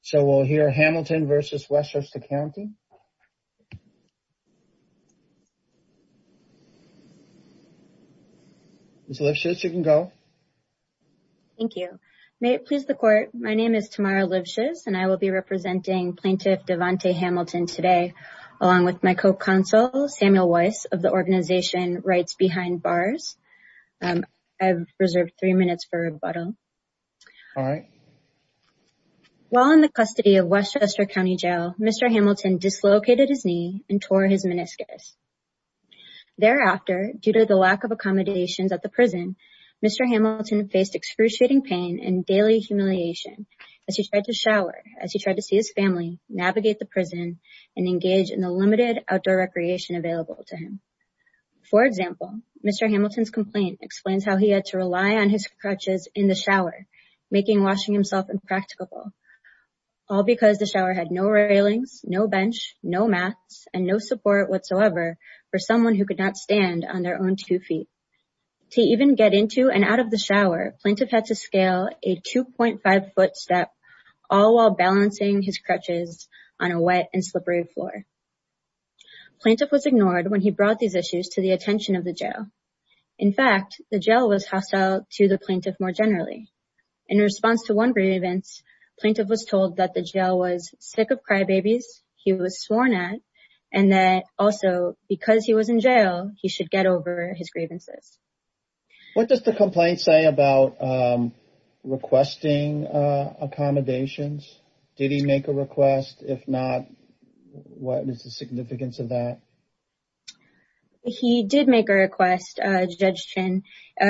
So we'll hear Hamilton versus Westchester County. Ms. Livshitz, you can go. Thank you. May it please the court, my name is Tamara Livshitz and I will be representing Plaintiff Devante Hamilton today along with my co-counsel Samuel Weiss of the organization Rights Behind Bars. I've reserved three minutes for rebuttal. All right. While in the custody of Westchester County Jail, Mr. Hamilton dislocated his knee and tore his meniscus. Thereafter, due to the lack of accommodations at the prison, Mr. Hamilton faced excruciating pain and daily humiliation as he tried to shower, as he tried to see his family, navigate the prison, and engage in the limited outdoor recreation available to him. For example, Mr. Hamilton's complaint explains how he had to rely on his crutches in the shower, making washing himself impracticable, all because the shower had no railings, no bench, no mats, and no support whatsoever for someone who could not stand on their own two feet. To even get into and out of the shower, Plaintiff had to scale a 2.5 foot step all while balancing his crutches on a wet and slippery floor. Plaintiff was ignored when he the plaintiff more generally. In response to one grievance, Plaintiff was told that the jail was sick of crybabies he was sworn at, and that also because he was in jail, he should get over his grievances. What does the complaint say about requesting accommodations? Did he make a request? If not, what is the significance of that? He did make a request, Judge Chin.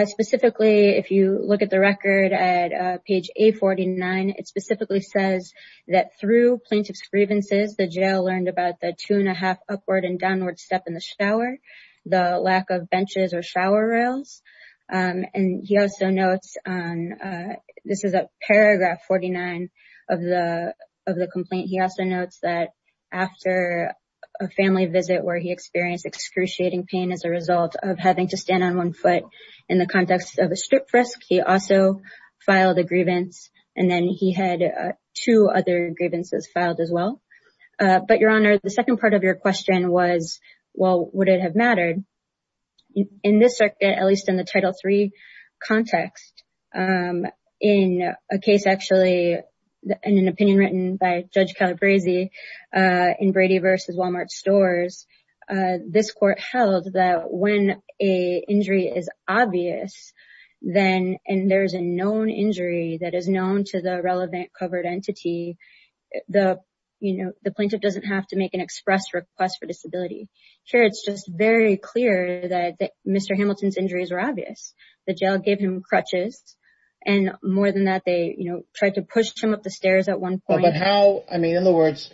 Specifically, if you look at the record at page A49, it specifically says that through Plaintiff's grievances, the jail learned about the two and a half upward and downward step in the shower, the lack of benches or shower rails. And he also notes on, this is a paragraph 49 of the complaint, he also notes that after a family visit where he experienced excruciating pain as a result of having to stand on one foot in the context of a strip frisk, he also filed a grievance and then he had two other grievances filed as well. But Your Honor, the second part of your question was, well, would it have mattered? In this circuit, at least in the Title III context, in a case, actually, in an opinion written by Judge Calabresi in Brady versus Walmart stores, this court held that when a injury is obvious, then, and there's a known injury that is known to the relevant covered entity, the plaintiff doesn't have to make an express request for disability. Here, it's just very clear that Mr. Hamilton's injuries were obvious. The jail gave him crutches. And more than that, they tried to push him up the stairs at one point. But how, I mean, in other words,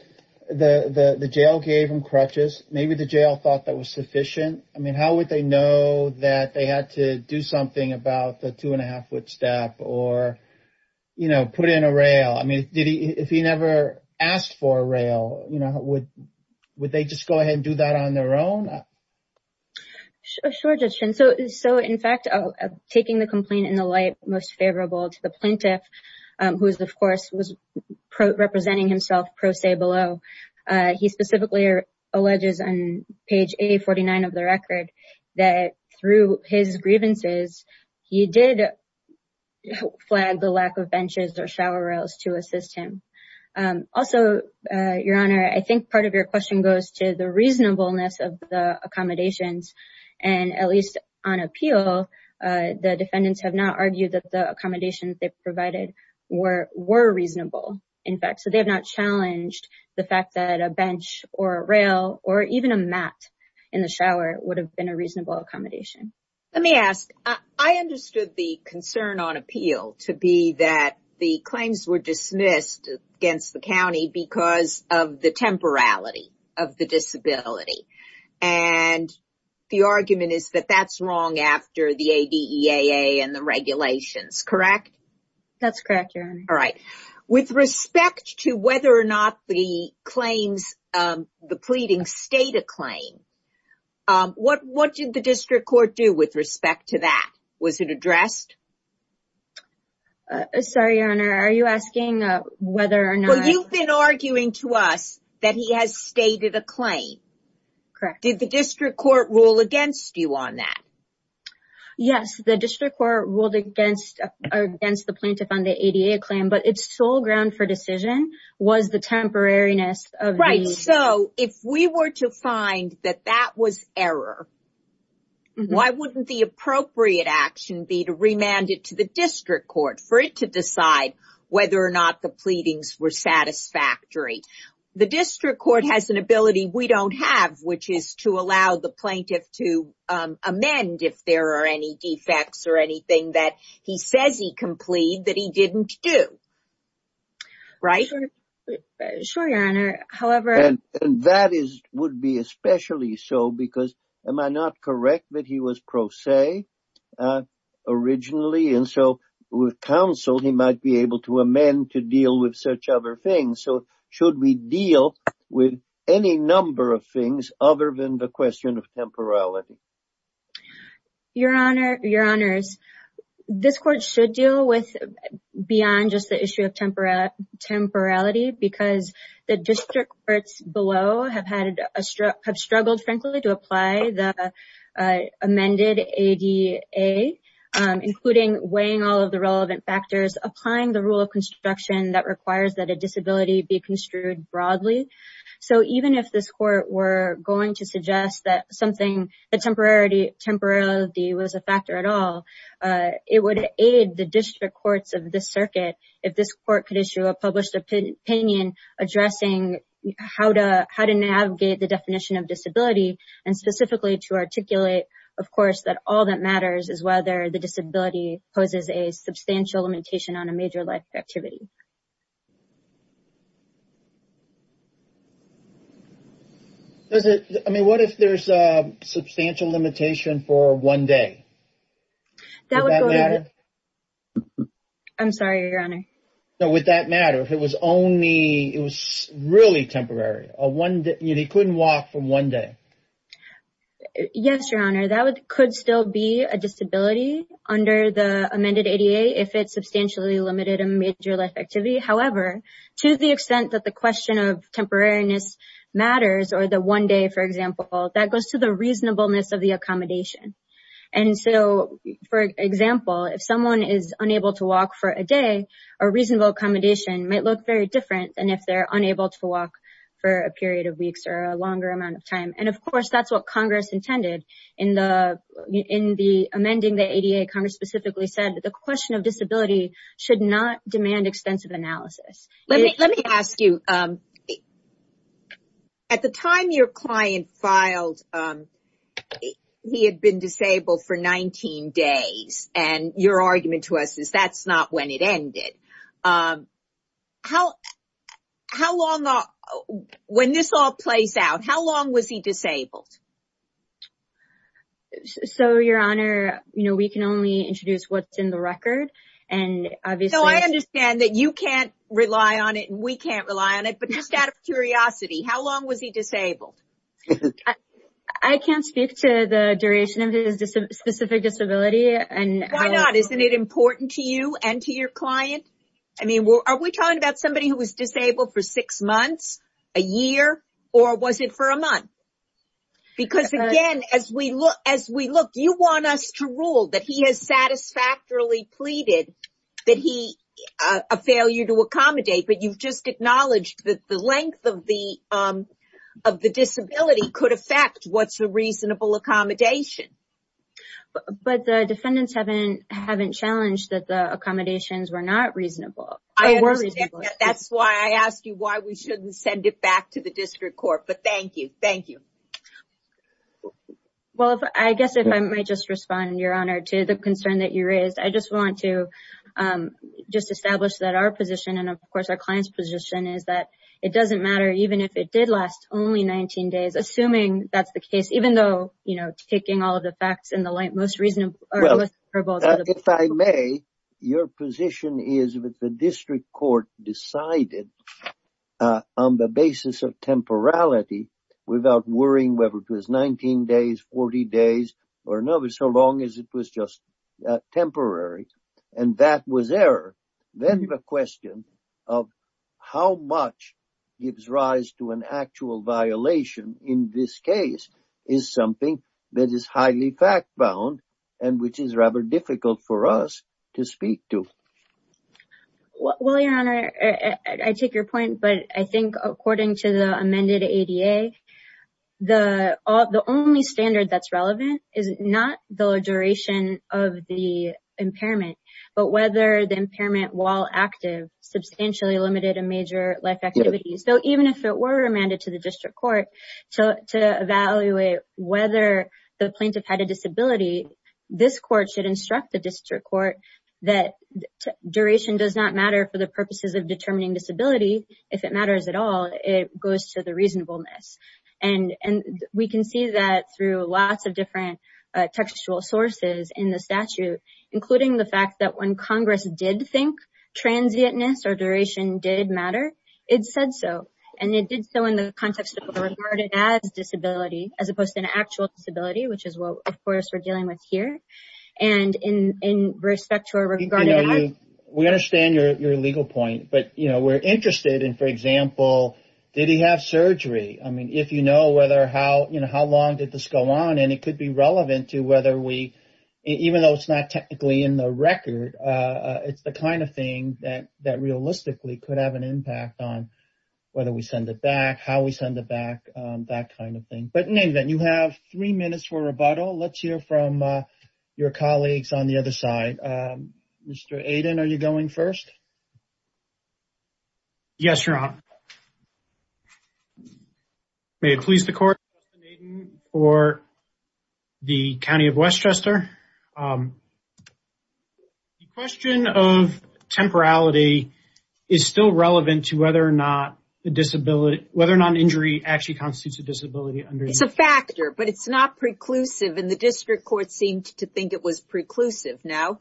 the jail gave him crutches. Maybe the jail thought that was sufficient. I mean, how would they know that they had to do something about the two and a half foot step or put in a rail? I mean, if he never asked for a rail, would they just go ahead and do that on their own? Sure, Judge Chin. So, in fact, taking the complaint in the light most favorable to the plaintiff, who is, of course, representing himself pro se below, he specifically alleges on page A49 of the record that through his grievances, he did flag the lack of benches or shower rails to assist him. Also, Your Honor, I think part of your question goes to the reasonableness of the appeal. The defendants have not argued that the accommodations they provided were reasonable, in fact. So they have not challenged the fact that a bench or a rail or even a mat in the shower would have been a reasonable accommodation. Let me ask. I understood the concern on appeal to be that the claims were dismissed against the county because of the temporality of the disability. And the argument is that that's wrong after the ADEAA and the regulations, correct? That's correct, Your Honor. All right. With respect to whether or not the claims, the pleading, state a claim, what did the district court do with respect to that? Was it addressed? Sorry, Your Honor, are you asking whether or not? Well, you've been arguing to us that he has stated a claim. Correct. Did the district court rule against you on that? Yes, the district court ruled against the plaintiff on the ADEAA claim, but its sole ground for decision was the temporariness of the... Right. So if we were to find that that was error, why wouldn't the appropriate action be to remand it to the district court for it to decide whether or not the pleadings were satisfactory? The district court has an ability we don't have, which is to allow the plaintiff to amend if there are any defects or anything that he says he can plead that he didn't do. Right? Sure, Your Honor. However... And that is, would be especially so because am I not correct that he was pro se originally? And so with counsel, he might be able to amend to deal with such other things. So should we deal with any number of things other than the question of temporality? Your Honor, Your Honors, this court should deal with beyond just the issue of temporality because the district courts below have struggled, frankly, to apply the amended ADEAA, including weighing all of the relevant factors, applying the rule of construction that requires that a disability be construed broadly. So even if this court were going to suggest that something, that temporality was a factor at all, it would aid the district courts of this circuit if this addressing how to navigate the definition of disability and specifically to articulate, of course, that all that matters is whether the disability poses a substantial limitation on a major life activity. I mean, what if there's a substantial limitation for one day? That would go... I'm sorry, Your Honor. So would that matter if it was only, it was really temporary, or one day, he couldn't walk for one day? Yes, Your Honor, that could still be a disability under the amended ADEAA if it substantially limited a major life activity. However, to the extent that the question of temporariness matters, or the one day, for example, that goes to the reasonableness of the accommodation. And so, for example, if someone is unable to walk for a day, a reasonable accommodation might look very different than if they're unable to walk for a period of weeks or a longer amount of time. And of course, that's what Congress intended in the amending the ADA. Congress specifically said that the question of disability should not demand extensive analysis. Let me ask you, at the time your client filed, he had been disabled for 19 days. And your argument to us is that's not when it ended. How long, when this all plays out, how long was he disabled? So, Your Honor, you know, we can only introduce what's in the record. And so I understand that you can't rely on it and we can't rely on it. But just out of curiosity, how long was he disabled? I can't speak to the duration of his specific disability. Why not? Isn't it important to you and to your client? I mean, are we talking about somebody who was disabled for six months, a year, or was it for a month? Because again, as we look, you want us to rule that he has satisfactorily pleaded that he, a failure to accommodate. But you've just acknowledged that the length of the disability could affect what's a reasonable accommodation. But the defendants haven't challenged that the accommodations were not reasonable. I understand that. That's why I asked you why we shouldn't send it back to the district court. But thank you. Thank you. Well, I guess if I might just respond, Your Honor, to the concern that I just want to just establish that our position and of course, our client's position is that it doesn't matter, even if it did last only 19 days, assuming that's the case, even though, you know, taking all of the facts in the light, most reasonable. If I may, your position is that the district court decided on the basis of temporality, without worrying whether it was 19 days, 40 days, or another, so long as it was just temporary. And that was error. Then the question of how much gives rise to an actual violation in this case is something that is highly fact bound, and which is rather difficult for us to speak to. Well, Your Honor, I take your point. But I think according to the amended ADA, the only standard that's relevant is not the duration of the impairment, but whether the impairment while active substantially limited a major life activity. So even if it were remanded to the district court to evaluate whether the plaintiff had a disability, this court should instruct the district court that duration does not matter for the purposes of determining disability. If it matters at all, it goes to the reasonableness. And we can see that through lots of different textual sources in the statute, including the fact that when Congress did think transientness or duration did matter, it said so. And it did so in the context of a regarded as disability, as opposed to an actual disability, which is what, of course, we're dealing with here. And in respect to a regarded as... You know, we understand your legal point, but we're interested in, for example, did he have surgery? I mean, if you know whether how long did this go on, and it could be relevant to whether we, even though it's not technically in the record, it's the kind of thing that realistically could have an impact on whether we send it back, how we send it back, that kind of other side. Mr. Aiden, are you going first? Yes, Your Honor. May it please the court, Justin Aiden for the County of Westchester. The question of temporality is still relevant to whether or not the disability, whether or not an injury actually constitutes a disability under... It's a factor, but it's not preclusive. And the district court seemed to think it was preclusive. No.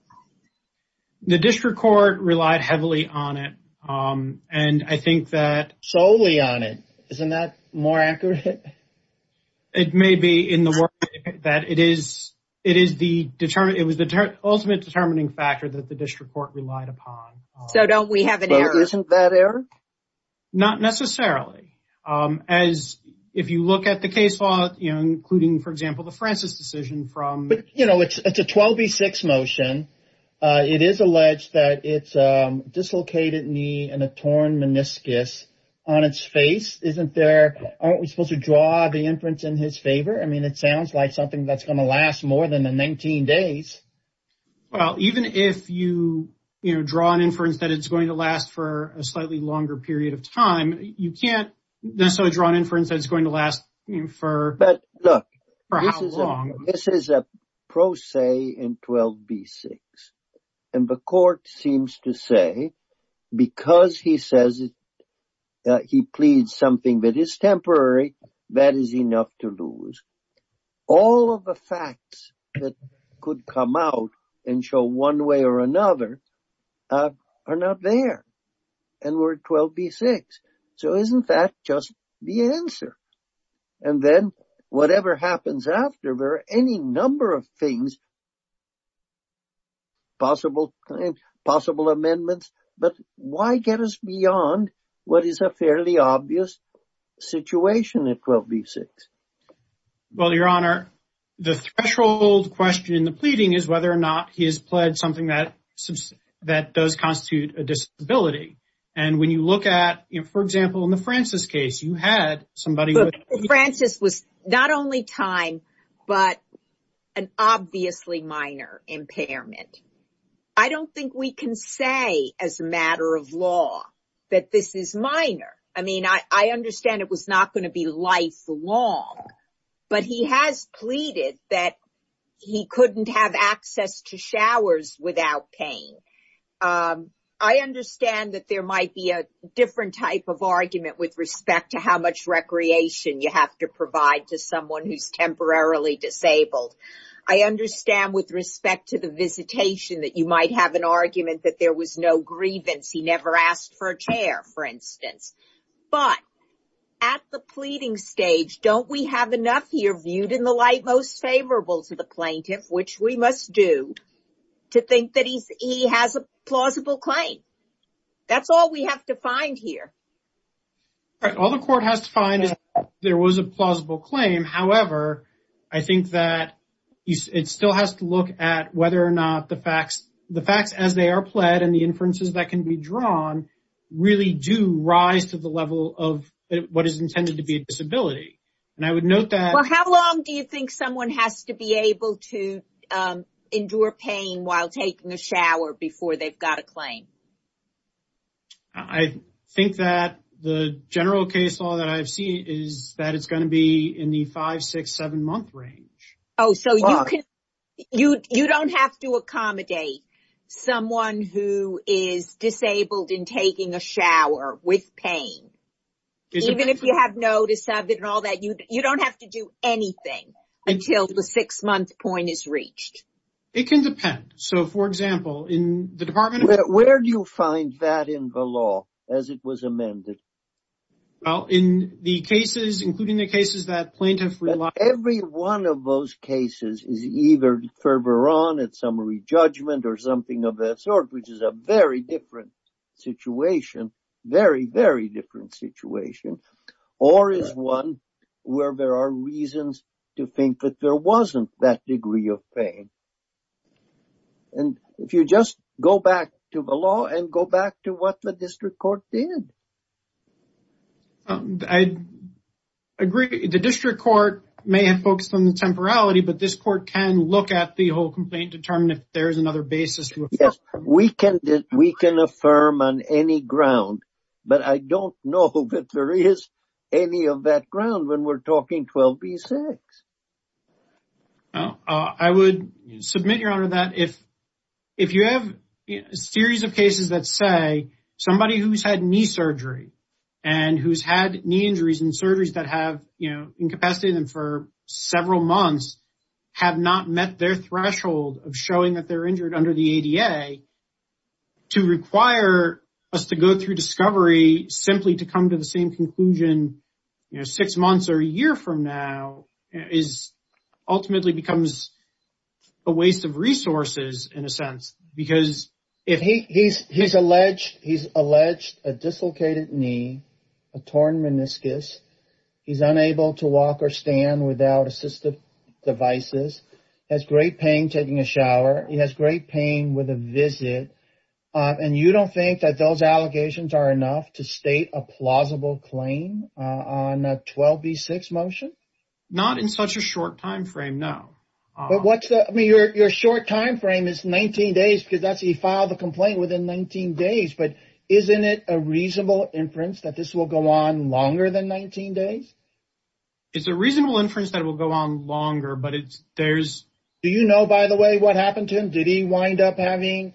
The district court relied heavily on it. And I think that... Solely on it. Isn't that more accurate? It may be in the work that it is the ultimate determining factor that the district court relied upon. So don't we have an error? But isn't that error? Not necessarily. As if you look at the case law, including, for example, the Francis decision from... But it's a 12B6 motion. It is alleged that it's a dislocated knee and a torn meniscus on its face. Aren't we supposed to draw the inference in his favor? I mean, it sounds like something that's going to last more than the 19 days. Well, even if you draw an inference that it's going to last for a slightly longer period of time, you can't necessarily draw an inference that it's going to last for how long. This is a pro se in 12B6. And the court seems to say, because he says that he pleads something that is temporary, that is enough to lose. All of the facts that could come out and show one way or another are not there. And we're at 12B6. So isn't that just the answer? And then whatever happens after, there are any number of things, possible time, possible amendments. But why get us beyond what is a fairly obvious situation at 12B6? Well, your honor, the threshold question in the pleading is whether or not he has pledged something that does constitute a disability. And when you look at, for example, in the Francis case, you had somebody. Look, Francis was not only time, but an obviously minor impairment. I don't think we can say as a matter of law that this is minor. I mean, I understand it was not going to be lifelong, but he has pleaded that he couldn't have access to showers without paying. I understand that there might be a different type of argument with respect to how much recreation you have to provide to someone who's temporarily disabled. I understand with respect to the visitation that you might have an argument that there was no grievance. He never asked for a chair, for instance. But at the pleading stage, don't we have enough here viewed in the light most favorable to the we must do to think that he has a plausible claim? That's all we have to find here. Right. All the court has to find is there was a plausible claim. However, I think that it still has to look at whether or not the facts as they are pled and the inferences that can be drawn really do rise to the level of what is intended to be a disability. And I would note that. How long do you think someone has to be able to endure pain while taking a shower before they've got a claim? I think that the general case law that I've seen is that it's going to be in the five, six, seven month range. Oh, so you don't have to accommodate someone who is disabled in taking a shower with pain, even if you have notice of it and all that. You don't have to do anything until the six month point is reached. It can depend. So, for example, in the department, where do you find that in the law as it was amended? Well, in the cases, including the cases that plaintiffs rely on, every one of those cases is either further on at some re-judgment or something of that sort, which is a very different situation, very, very different situation, or is one where there are reasons to think that there wasn't that degree of pain. And if you just go back to the law and go back to what the district court did. I agree. The district court may have focused on the temporality, but this court can look at the complaint and determine if there is another basis. Yes, we can affirm on any ground, but I don't know that there is any of that ground when we're talking 12B6. I would submit, Your Honor, that if you have a series of cases that say somebody who's had knee surgery and who's had knee injuries and surgeries that have incapacitated them for several months have not met their threshold of showing that they're injured under the ADA, to require us to go through discovery simply to come to the same conclusion six months or a year from now ultimately becomes a waste of resources in a sense. He's alleged a dislocated knee, a torn meniscus, he's unable to walk or stand without assistive devices, has great pain taking a shower, he has great pain with a visit, and you don't think that those allegations are enough to state a plausible claim on a 12B6 motion? Not in such a short time frame, no. But your short time frame is 19 days because he filed the complaint within 19 days, but isn't it a reasonable inference that this will go on longer than 19 days? It's a reasonable inference that it will go on longer, but there's... Do you know, by the way, what happened to him? Did he wind up having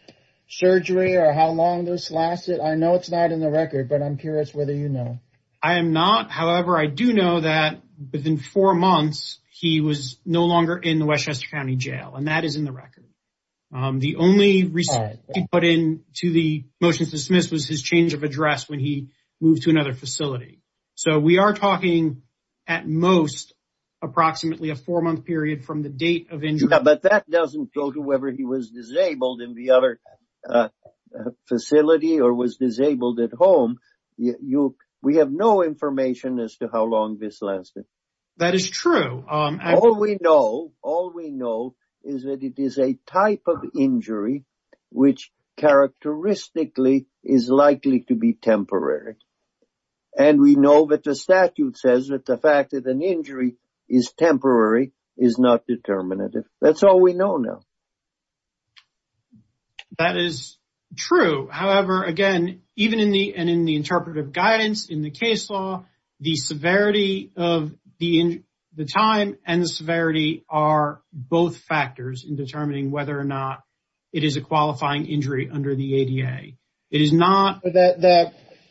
surgery or how long this lasted? I know it's not in the record, but I'm curious whether you know. I am not. However, I do know that within four months he was no longer in the Westchester County Jail, and that is in the record. The only response he put in to the motion to dismiss was his change address when he moved to another facility. So we are talking at most approximately a four-month period from the date of injury. But that doesn't go to whether he was disabled in the other facility or was disabled at home. We have no information as to how long this lasted. That is true. All we know is that it is a type of injury which characteristically is likely to be temporary. And we know that the statute says that the fact that an injury is temporary is not determinative. That's all we know now. That is true. However, again, even in the interpretive guidance in the case law, the severity of the time and the severity are both factors in determining whether or not it is a qualifying injury under the ADA.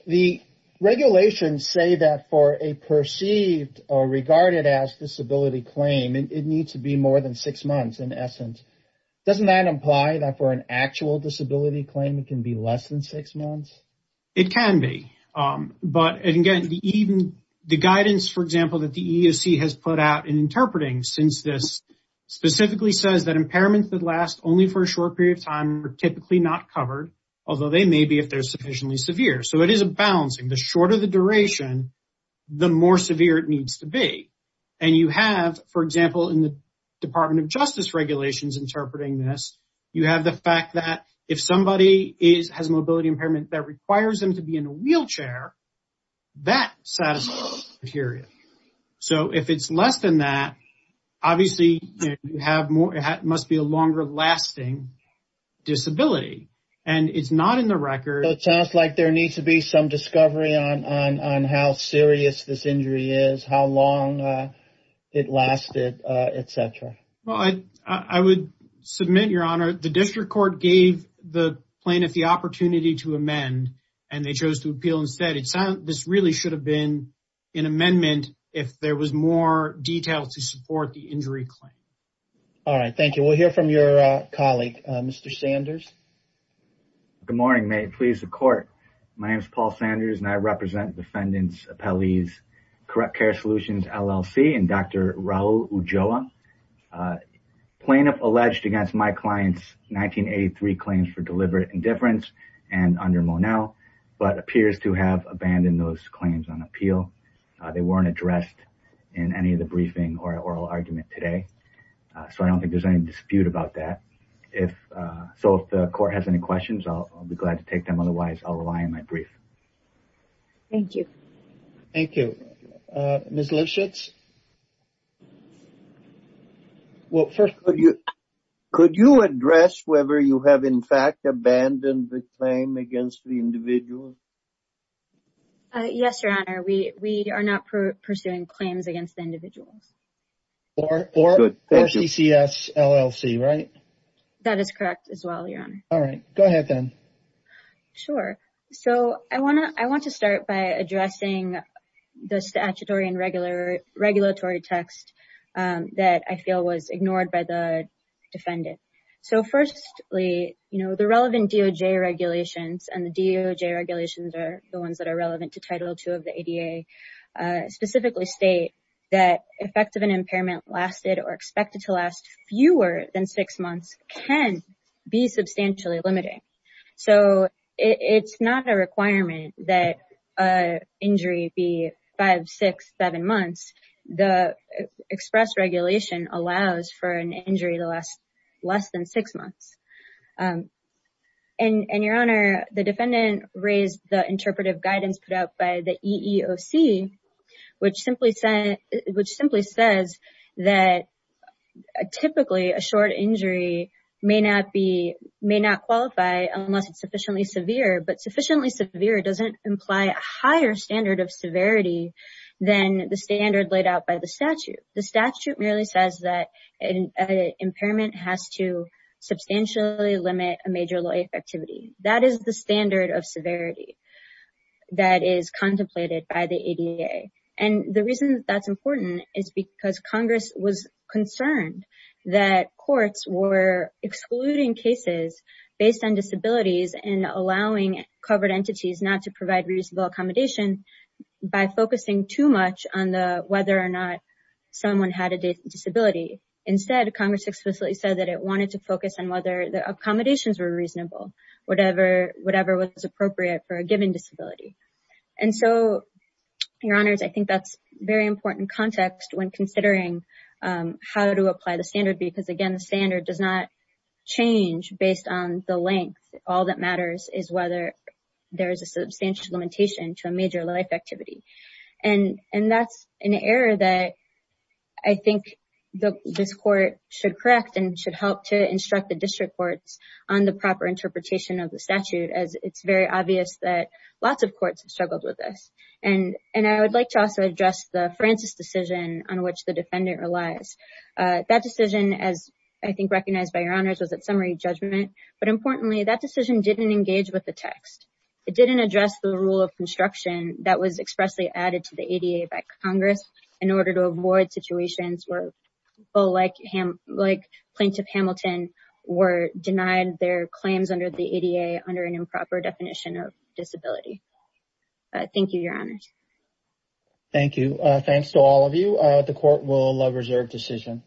The regulations say that for a perceived or regarded as disability claim, it needs to be more than six months in essence. Doesn't that imply that for an actual disability claim, it can be less than six months? It can be. But again, the guidance, for example, that the EEOC has put out in interpreting since this specifically says that impairments that last only for a short period of time are typically not covered, although they may be if they're sufficiently severe. So it is a balancing. The shorter the duration, the more severe it needs to be. And you have, for example, in the Department of Justice regulations interpreting this, you have the fact that if somebody has a mobility impairment that requires them to be in a wheelchair, that satisfies the criteria. So if it's less than that, obviously you have more, must be a longer lasting disability. And it's not in the record. So it sounds like there needs to be some discovery on how serious this injury is, how long it lasted, et cetera. Well, I would submit, Your Honor, the district court gave the plaintiff the opportunity to amend and they chose to appeal instead. This really should have been an amendment if there was more detail to support the injury claim. All right. Thank you. We'll hear from your colleague, Mr. Sanders. Good morning. May it please the court. My name is Paul Sanders and I represent Defendants Appellees Correct Care Solutions, LLC and Dr. Raul Ulloa. Plaintiff alleged against my client's 1983 claims for deliberate indifference and under Monell, but appears to have abandoned those claims on appeal. They weren't addressed in any of the briefing or oral argument today. So I don't think there's any dispute about that. So if the court has any questions, I'll be glad to take them. Otherwise, I'll rely on my brief. Thank you. Thank you. Ms. Lischitz. Well, first, could you address whether you have, in fact, abandoned the claim against the individual? Yes, Your Honor. We are not pursuing claims against the individuals. Or CCS, LLC, right? That is correct as well, Your Honor. All right. Go ahead then. Sure. So I want to start by addressing the statutory and regulatory text that I feel was ignored by the defendant. So firstly, the relevant DOJ regulations, and the DOJ regulations are the ones that are relevant to Title II of the ADA, specifically state that effective and impairment lasted or expected to fewer than six months can be substantially limited. So it's not a requirement that injury be five, six, seven months. The express regulation allows for an injury less than six months. And Your Honor, the defendant raised the interpretive guidance put out by the EEOC, which simply says that typically a short injury may not qualify unless it's sufficiently severe, but sufficiently severe doesn't imply a higher standard of severity than the standard laid out by the statute. The statute merely says that an impairment has to substantially limit a major activity. That is the standard of severity that is contemplated by the ADA. And the reason that's important is because Congress was concerned that courts were excluding cases based on disabilities and allowing covered entities not to provide reasonable accommodation by focusing too much on the whether or not someone had a disability. Instead, Congress explicitly said that it wanted to focus on whether the accommodations were reasonable, whatever was appropriate for a given disability. And so, Your Honors, I think that's very important context when considering how to apply the standard because again, the standard does not change based on the length. All that matters is whether there is a substantial limitation to a major life activity. And that's an error that I think this court should correct and should help to instruct the district courts on the proper interpretation of the statute as it's very obvious that lots of courts have struggled with this. And I would like to also address the Francis decision on which the defendant relies. That decision, as I think recognized by Your Honors, was at summary judgment. But importantly, that decision didn't engage with the text. It didn't address the rule of construction that was expressly added to the ADA by Congress in order to avoid situations where people like Plaintiff Hamilton were denied their claims under the ADA under an improper definition of disability. Thank you, Your Honors. Thank you. Thanks to all of you. The court will reserve decision.